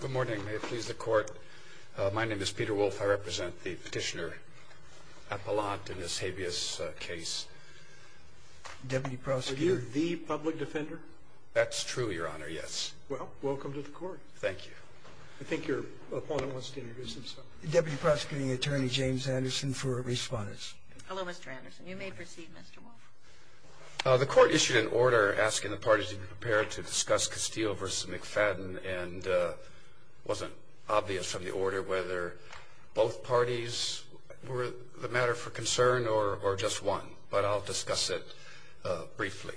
Good morning. May it please the court. My name is Peter Wolfe. I represent the petitioner Appelant in this habeas case. Deputy prosecutor. Are you the public defender? That's true, your honor, yes. Well, welcome to the court. Thank you. I think your opponent wants to introduce himself. Deputy Prosecuting Attorney James Anderson for a response. Hello, Mr. Anderson. You may proceed, Mr. Wolfe. The court issued an order asking the parties to be prepared to discuss Castile v. McFadden, and it wasn't obvious from the order whether both parties were the matter for concern or just one. But I'll discuss it briefly.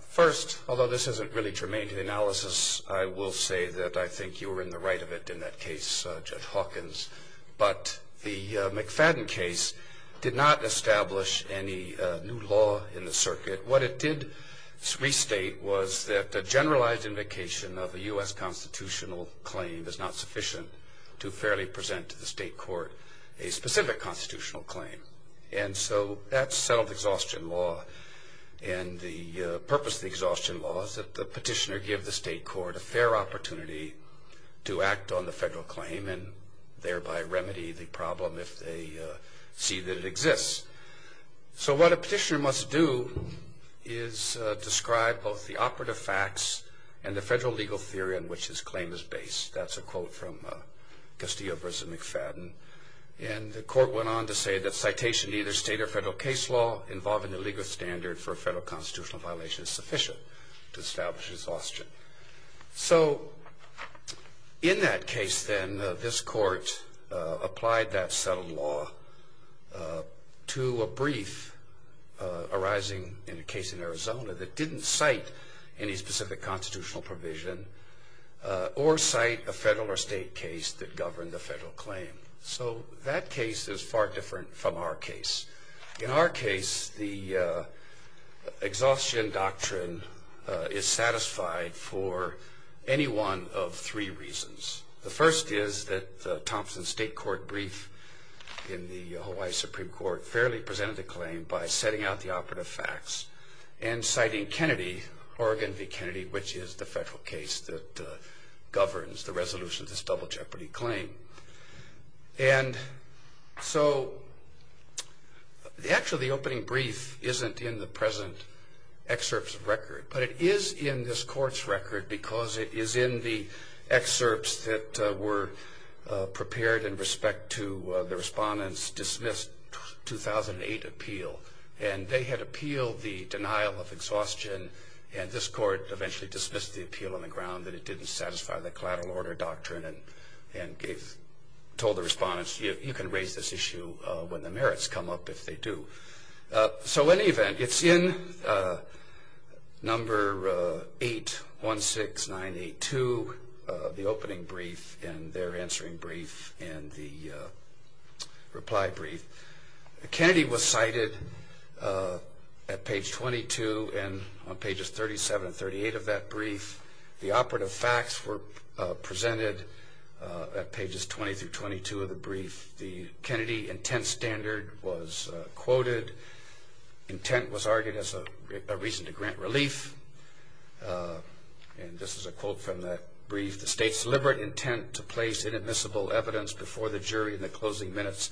First, although this isn't really germane to the analysis, I will say that I think you were in the right of it in that case, Judge Hawkins. But the McFadden case did not establish any new law in the circuit. What it did restate was that a generalized invocation of a U.S. constitutional claim is not sufficient to fairly present to the state court a specific constitutional claim. And so that's self-exhaustion law. And the purpose of the exhaustion law is that the petitioner give the state court a fair opportunity to act on the federal claim, and thereby remedy the problem if they see that it exists. So what a petitioner must do is describe both the operative facts and the federal legal theory on which his claim is based. That's a quote from Castile v. McFadden. And the court went on to say that citation to either state or federal case law involving the legal standard for a federal constitutional violation is sufficient to establish exhaustion. So in that case, then, this court applied that settled law to a brief arising in a case in Arizona that didn't cite any specific constitutional provision or cite a federal or state case that governed the federal claim. So that case is far different from our case. In our case, the exhaustion doctrine is satisfied for any one of three reasons. The first is that Thompson's state court brief in the Hawaii Supreme Court fairly presented the claim by setting out the operative facts and citing Kennedy, Oregon v. Kennedy, which is the federal case that governs the resolution of this double jeopardy claim. And so actually, the opening brief isn't in the present excerpt's record, but it is in this court's record because it is in the excerpts that were prepared in respect to the respondents' dismissed 2008 appeal. And they had appealed the denial of exhaustion, and this court eventually dismissed the appeal on the ground that it didn't satisfy the collateral order doctrine and told the respondents, you can raise this issue when the merits come up if they do. So in any event, it's in number 816982, the opening brief and their answering brief and the reply brief. Kennedy was cited at page 22 and on pages 37 and 38 of that brief. The operative facts were presented at pages 20 through 22 of the brief. The Kennedy intent standard was quoted. Intent was argued as a reason to grant relief, and this is a quote from that brief. The state's deliberate intent to place inadmissible evidence before the jury in the closing minutes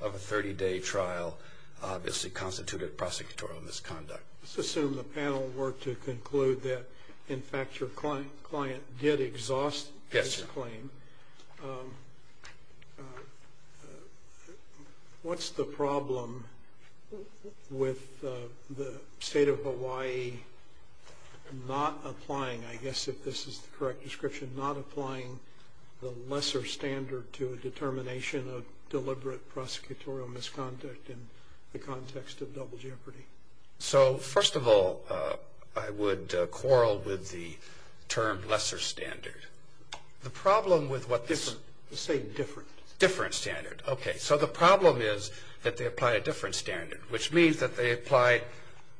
of a 30-day trial obviously constituted prosecutorial misconduct. Let's assume the panel were to conclude that, in fact, your client did exhaust this claim. Yes. What's the problem with the state of Hawaii not applying, I guess if this is the correct description, not applying the lesser standard to a determination of deliberate prosecutorial misconduct in the context of double jeopardy? So first of all, I would quarrel with the term lesser standard. The problem with what this- The same different. Different standard. Okay. So the problem is that they apply a different standard, which means that they apply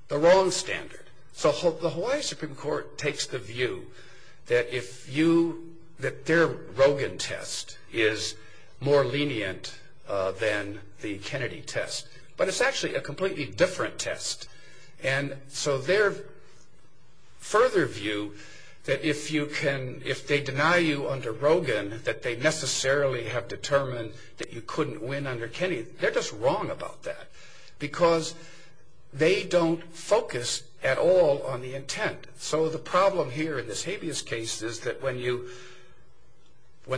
the wrong standard. So the Hawaii Supreme Court takes the view that their Rogin test is more lenient than the Kennedy test, but it's actually a completely different test. So their further view that if they deny you under Rogin that they necessarily have determined that you couldn't win under Kennedy, they're just wrong about that because they don't focus at all on the intent. So the problem here in this habeas case is that when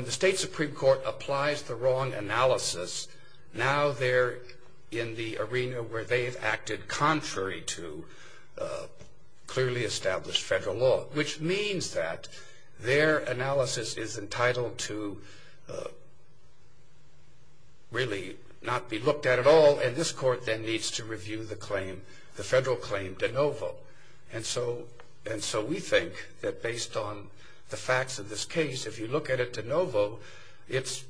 the state Supreme Court applies the wrong analysis, now they're in the arena where they've acted contrary to clearly established federal law, which means that their analysis is entitled to really not be looked at at all, and this court then needs to review the federal claim de novo. And so we think that based on the facts of this case, if you look at it de novo, it's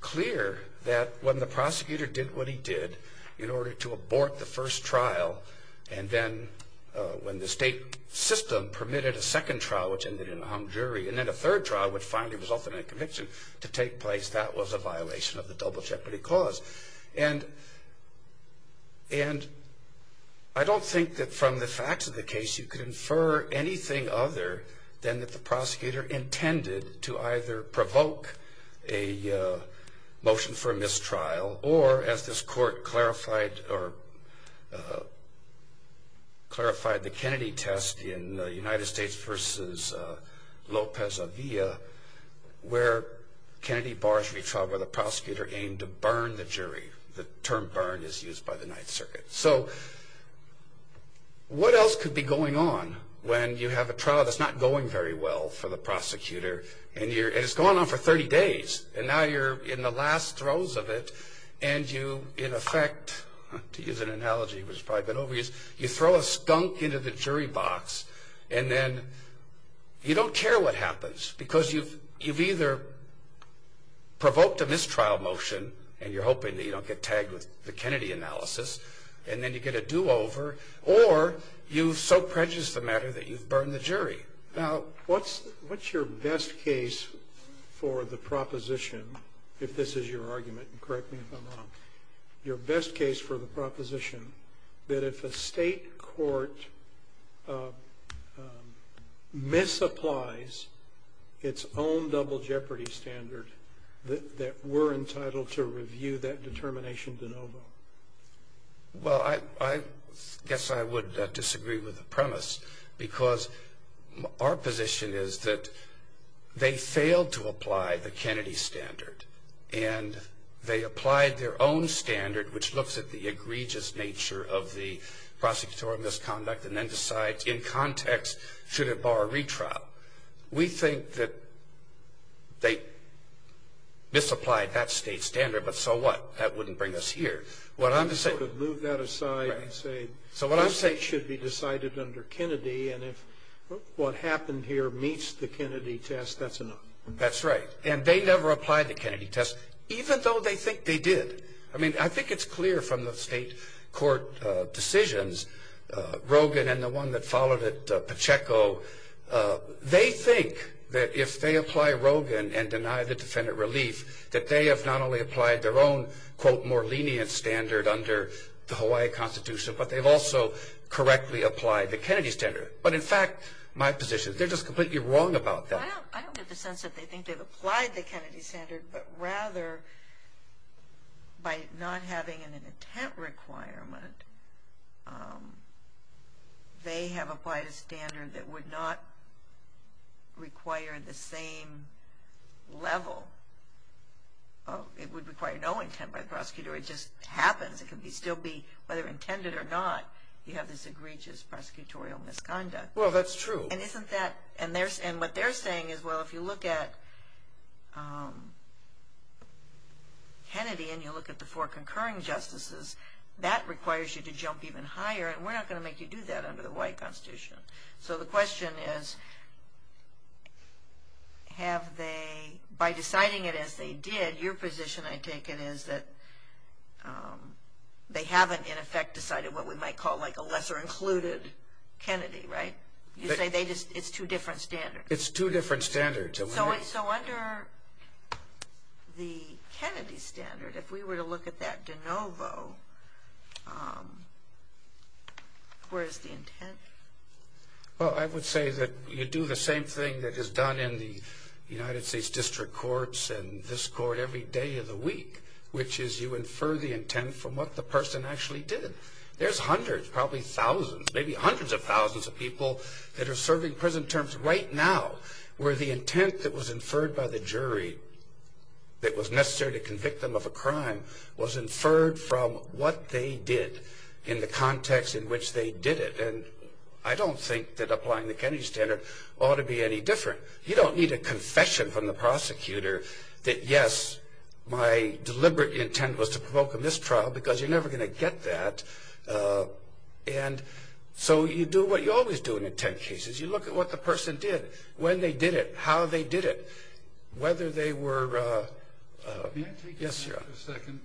clear that when the prosecutor did what he did in order to abort the first trial, and then when the state system permitted a second trial, which ended in a hung jury, and then a third trial, which finally resulted in a conviction to take place, that was a violation of the double jeopardy clause. And I don't think that from the facts of the case, you could infer anything other than that the prosecutor intended to either provoke a motion for mistrial, or as this court clarified the Kennedy test in the United States versus Lopez-Avia, where Kennedy bars retrial where the prosecutor aimed to burn the jury. The term burn is used by the Ninth Circuit. So what else could be going on when you have a trial that's not going very well for the prosecutor, and it's going on for 30 days, and now you're in the last rows of it, and you in effect, to use an analogy which has probably been overused, you throw a skunk into the jury box, and then you don't care what happens, because you've either provoked a mistrial motion, and you're hoping that you don't get tagged with the Kennedy analysis, and then you get a do-over, or you've so prejudiced the matter that you've burned the jury. Now, what's your best case for the proposition, if this is your argument, and correct me if I'm wrong, your best case for the proposition that if a state court misapplies its own double jeopardy standard, that we're entitled to review that determination de novo? Well, I guess I would disagree with the premise, because our position is that they failed to apply the Kennedy standard, and they applied their own standard, which looks at the egregious nature of the prosecutorial misconduct, and then decides in context should it bar a retrial. We think that they misapplied that state standard, but so what? That wouldn't bring us here. You sort of move that aside and say this should be decided under Kennedy, and if what happened here meets the Kennedy test, that's enough. That's right. And they never applied the Kennedy test, even though they think they did. I mean, I think it's clear from the state court decisions, Rogin and the one that followed it, Pacheco, they think that if they apply Rogin and deny the defendant relief, that they have not only applied their own, quote, more lenient standard under the Hawaii Constitution, but they've also correctly applied the Kennedy standard. But, in fact, my position is they're just completely wrong about that. I don't get the sense that they think they've applied the Kennedy standard, but rather by not having an intent requirement, they have applied a standard that would not require the same level. It would require no intent by the prosecutor. It just happens. It can still be, whether intended or not, you have this egregious prosecutorial misconduct. Well, that's true. And what they're saying is, well, if you look at Kennedy and you look at the four concurring justices, that requires you to jump even higher, and we're not going to make you do that under the Hawaii Constitution. So the question is, by deciding it as they did, your position, I take it, is that they haven't, in effect, decided what we might call like a lesser included Kennedy, right? You say it's two different standards. It's two different standards. So under the Kennedy standard, if we were to look at that de novo, where is the intent? Well, I would say that you do the same thing that is done in the United States District Courts and this court every day of the week, which is you infer the intent from what the person actually did. There's hundreds, probably thousands, maybe hundreds of thousands of people that are serving prison terms right now where the intent that was inferred by the jury that was necessary to convict them of a crime was inferred from what they did in the context in which they did it. And I don't think that applying the Kennedy standard ought to be any different. My deliberate intent was to provoke a mistrial because you're never going to get that. And so you do what you always do in intent cases. You look at what the person did, when they did it, how they did it, whether they were – yes, sir. Can I take a second?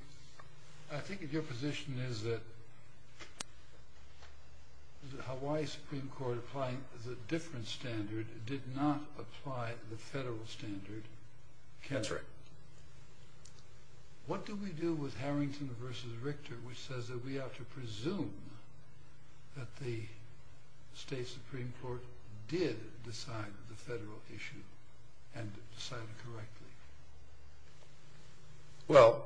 I think your position is that the Hawaii Supreme Court applying the different standard did not apply the federal standard. That's right. What do we do with Harrington v. Richter, which says that we ought to presume that the state Supreme Court did decide the federal issue and decided correctly? Well,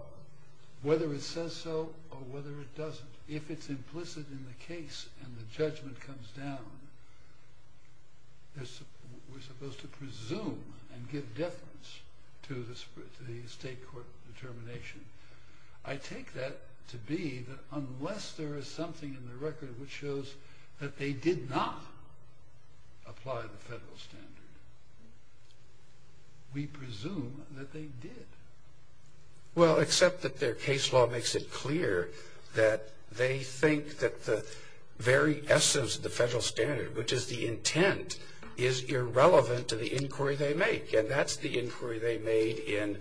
whether it says so or whether it doesn't, if it's implicit in the case and the judgment comes down, we're supposed to presume and give deference to the state court determination. I take that to be that unless there is something in the record which shows that they did not apply the federal standard, we presume that they did. Well, except that their case law makes it clear that they think that the very essence of the federal standard, which is the intent, is irrelevant to the inquiry they make. And that's the inquiry they made in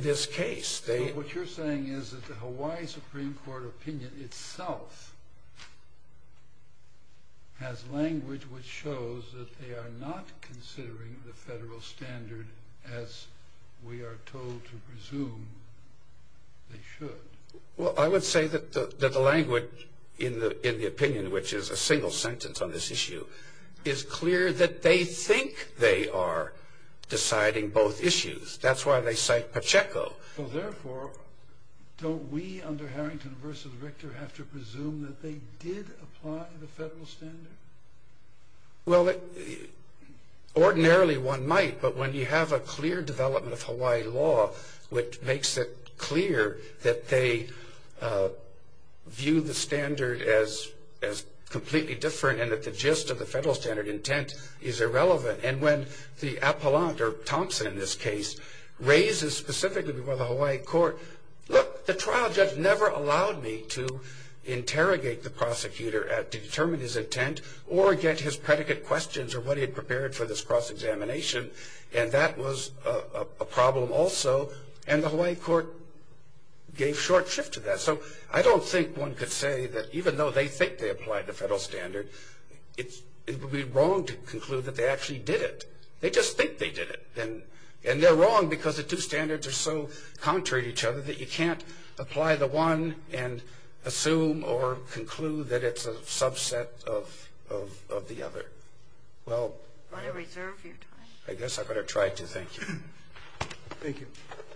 this case. What you're saying is that the Hawaii Supreme Court opinion itself has language which shows that they are not considering the federal standard as we are told to presume they should. Well, I would say that the language in the opinion, which is a single sentence on this issue, is clear that they think they are deciding both issues. That's why they cite Pacheco. Well, therefore, don't we under Harrington v. Richter have to presume that they did apply the federal standard? Well, ordinarily one might, but when you have a clear development of Hawaii law which makes it clear that they view the standard as completely different and that the gist of the federal standard intent is irrelevant, and when the appellant, or Thompson in this case, raises specifically before the Hawaii court, look, the trial judge never allowed me to interrogate the prosecutor to determine his intent or get his predicate questions or what he had prepared for this cross-examination, and that was a problem also, and the Hawaii court gave short shift to that. So I don't think one could say that even though they think they applied the federal standard, it would be wrong to conclude that they actually did it. They just think they did it, and they're wrong because the two standards are so contrary to each other that you can't apply the one and assume or conclude that it's a subset of the other. Well, I guess I better try to. Thank you. Thank you. Thank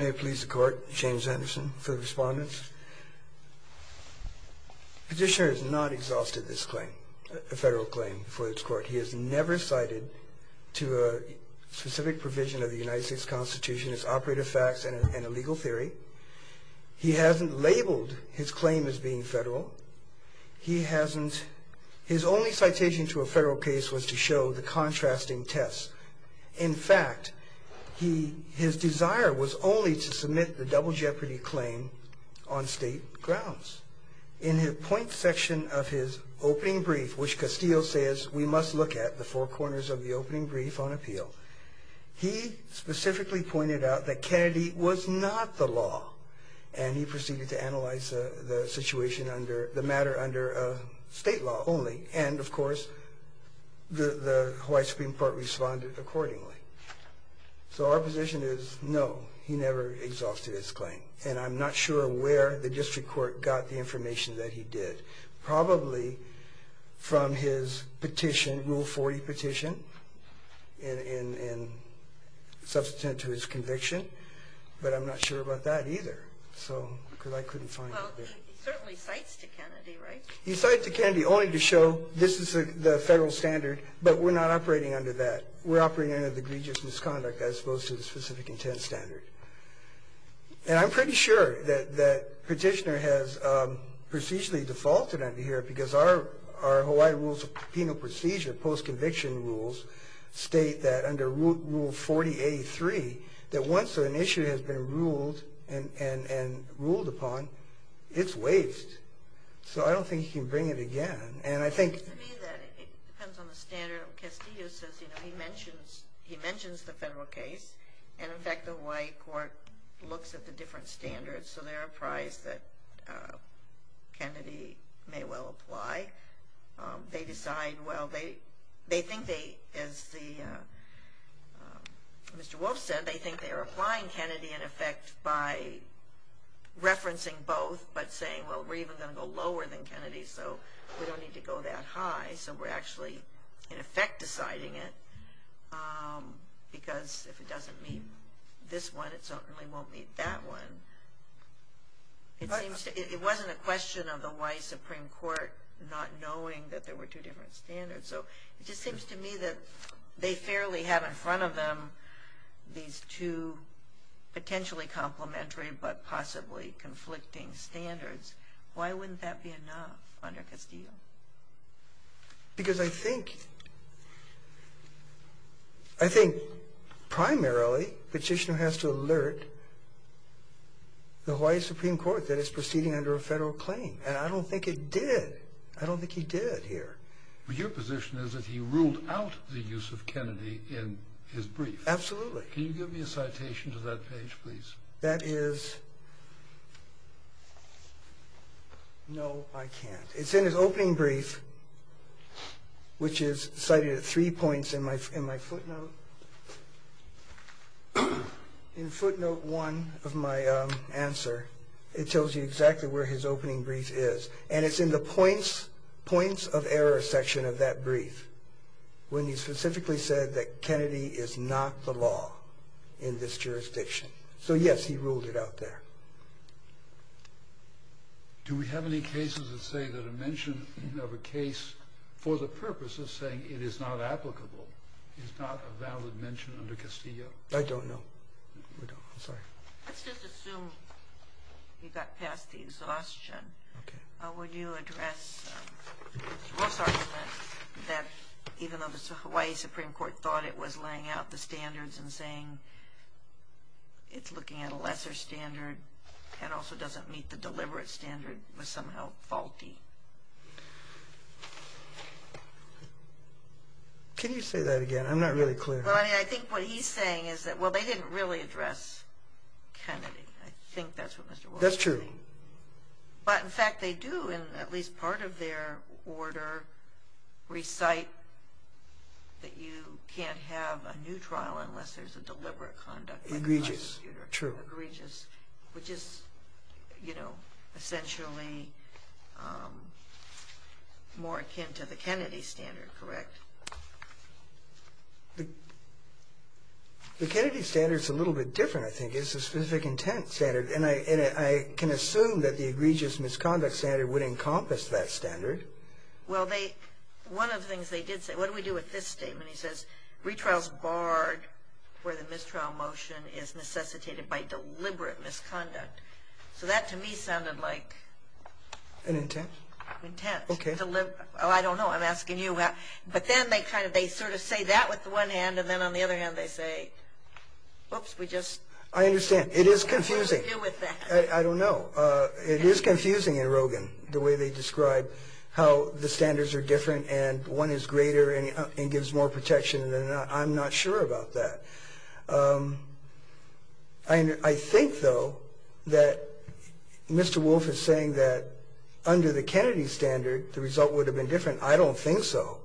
you. May it please the court. James Anderson for the respondents. Petitioner has not exhausted this claim, a federal claim for this court. He has never cited to a specific provision of the United States Constitution as operative facts and a legal theory. He hasn't labeled his claim as being federal. He hasn't. His only citation to a federal case was to show the contrasting tests. In fact, his desire was only to submit the double jeopardy claim on state grounds. In the point section of his opening brief, which Castillo says we must look at, the four corners of the opening brief on appeal, he specifically pointed out that Kennedy was not the law, and he proceeded to analyze the matter under state law only, and, of course, the Hawaii Supreme Court responded accordingly. So our position is no, he never exhausted his claim, and I'm not sure where the district court got the information that he did. Probably from his petition, Rule 40 petition, in substantive to his conviction, but I'm not sure about that either, because I couldn't find it there. Well, he certainly cites to Kennedy, right? He cites to Kennedy only to show this is the federal standard, but we're not operating under that. We're operating under the egregious misconduct as opposed to the specific intent standard. And I'm pretty sure that Petitioner has procedurally defaulted under here because our Hawaii Rules of Penal Procedure, post-conviction rules, state that under Rule 4083, that once an issue has been ruled and ruled upon, it's waived. So I don't think he can bring it again. It's to me that it depends on the standard. Castillo says he mentions the federal case, and, in fact, the Hawaii court looks at the different standards, so they're apprised that Kennedy may well apply. They decide, well, they think they, as Mr. Wolf said, they think they are applying Kennedy, in effect, by referencing both, but saying, well, we're even going to go lower than Kennedy, so we don't need to go that high. So we're actually, in effect, deciding it, because if it doesn't meet this one, it certainly won't meet that one. It wasn't a question of the Hawaii Supreme Court not knowing that there were two different standards. So it just seems to me that they fairly have in front of them these two potentially complementary but possibly conflicting standards. Why wouldn't that be enough under Castillo? Because I think primarily the petitioner has to alert the Hawaii Supreme Court that it's proceeding under a federal claim, and I don't think it did. I don't think he did here. But your position is that he ruled out the use of Kennedy in his brief. Absolutely. Can you give me a citation to that page, please? That is... No, I can't. It's in his opening brief, which is cited at three points in my footnote. In footnote 1 of my answer, it tells you exactly where his opening brief is, and it's in the points of error section of that brief when he specifically said that Kennedy is not the law in this jurisdiction. So, yes, he ruled it out there. Do we have any cases that say that a mention of a case for the purpose of saying it is not applicable is not a valid mention under Castillo? I don't know. We don't. I'm sorry. Let's just assume you got past the exhaustion. Okay. Would you address the false argument that even though the Hawaii Supreme Court thought it was laying out the standards and saying it's looking at a lesser standard and also doesn't meet the deliberate standard, was somehow faulty? Can you say that again? I'm not really clear. Well, I mean, I think what he's saying is that, well, they didn't really address Kennedy. I think that's what Mr. Wilson is saying. That's true. But, in fact, they do, in at least part of their order, recite that you can't have a new trial unless there's a deliberate conduct. Egregious. True. Egregious, which is, you know, essentially more akin to the Kennedy standard, correct? The Kennedy standard's a little bit different, I think. It's a specific intent standard. And I can assume that the egregious misconduct standard would encompass that standard. Well, one of the things they did say, what do we do with this statement? He says, retrial's barred where the mistrial motion is necessitated by deliberate misconduct. So that, to me, sounded like... An intent? Intent. Oh, I don't know. I'm asking you. But then they sort of say that with one hand, and then on the other hand they say, whoops, we just... I understand. It is confusing. What do we do with that? I don't know. It is confusing in Rogin, the way they describe how the standards are different and one is greater and gives more protection, and I'm not sure about that. I think, though, that Mr. Wolf is saying that under the Kennedy standard, the result would have been different. I don't think so.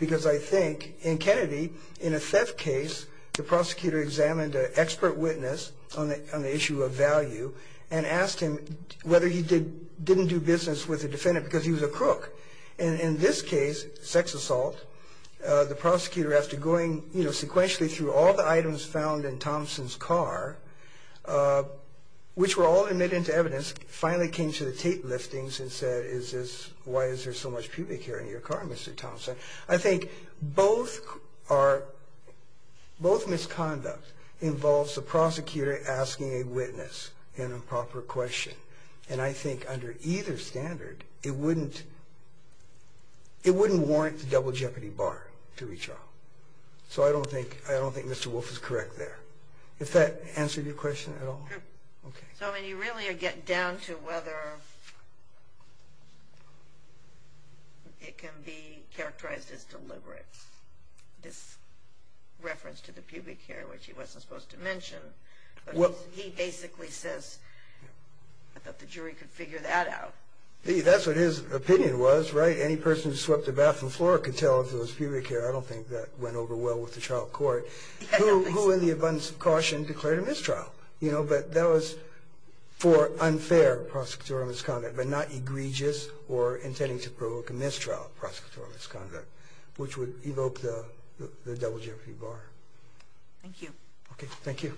Because I think in Kennedy, in a theft case, the prosecutor examined an expert witness on the issue of value and asked him whether he didn't do business with the defendant because he was a crook. And in this case, sex assault, the prosecutor, after going sequentially through all the items found in Thompson's car, which were all admitted into evidence, finally came to the tape listings and said, why is there so much pubic hair in your car, Mr. Thompson? I think both are... That's the prosecutor asking a witness an improper question. And I think under either standard, it wouldn't warrant the double jeopardy bar to retrial. So I don't think Mr. Wolf is correct there. Does that answer your question at all? Sure. So when you really get down to whether it can be characterized as deliberate, this reference to the pubic hair, which he wasn't supposed to mention, he basically says, I thought the jury could figure that out. That's what his opinion was, right? Any person who swept the bathroom floor could tell it was pubic hair. I don't think that went over well with the trial court. Who, in the abundance of caution, declared a mistrial? But that was for unfair prosecutorial misconduct, but not egregious or intending to provoke a mistrial, prosecutorial misconduct, which would evoke the double jeopardy bar. Thank you. Okay, thank you.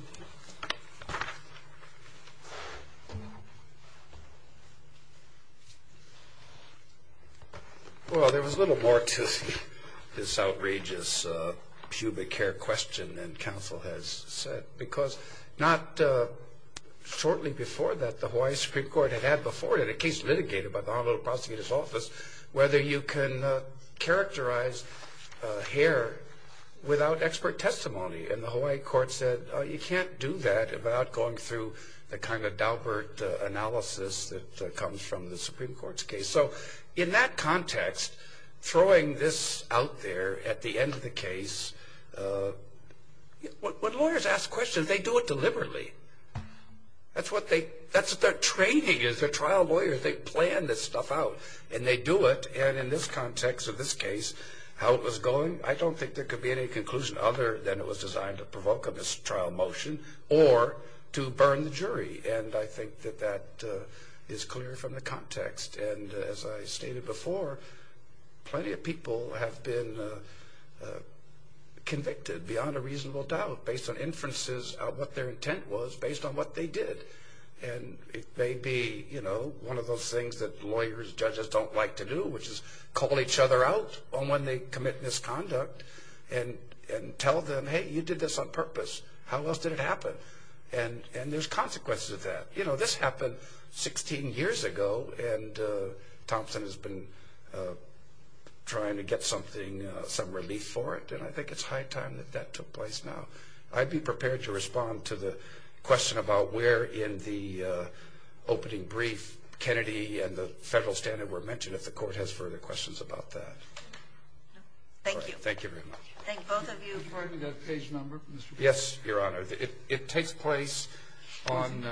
Well, there was a little more to this outrageous pubic hair question than counsel has said, because not shortly before that, the Hawaii Supreme Court had had before it a case litigated by the Honolulu Prosecutor's Office whether you can characterize hair without expert testimony. And the Hawaii court said, you can't do that without going through the kind of daubert analysis that comes from the Supreme Court's case. So in that context, throwing this out there at the end of the case, when lawyers ask questions, they do it deliberately. That's what they're training as a trial lawyer. They plan this stuff out, and they do it. And in this context of this case, how it was going, I don't think there could be any conclusion other than it was designed to provoke a mistrial motion or to burn the jury. And I think that that is clear from the context. And as I stated before, plenty of people have been convicted beyond a reasonable doubt, based on inferences of what their intent was, based on what they did. And it may be, you know, one of those things that lawyers, judges don't like to do, which is call each other out on when they commit misconduct and tell them, hey, you did this on purpose. How else did it happen? And there's consequences of that. You know, this happened 16 years ago, and Thompson has been trying to get something, some relief for it. And I think it's high time that that took place now. So I'd be prepared to respond to the question about where in the opening brief Kennedy and the federal standard were mentioned, if the court has further questions about that. Thank you. Thank you very much. Thank both of you. Pardon me, I've got a page number. Yes, Your Honor. It takes place on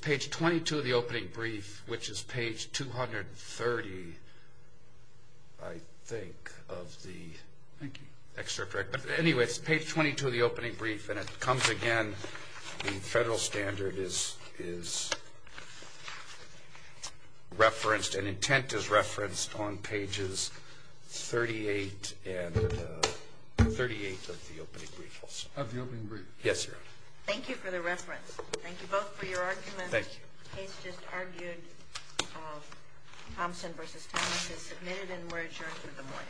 page 22 of the opening brief, which is page 230, I think, of the excerpt. But anyway, it's page 22 of the opening brief, and it comes again. The federal standard is referenced and intent is referenced on pages 38 and 38 of the opening brief. Of the opening brief. Yes, Your Honor. Thank you for the reference. Thank you both for your arguments. Thank you. The case just argued, Thompson v. Thomas is submitted and we're adjourned for the morning.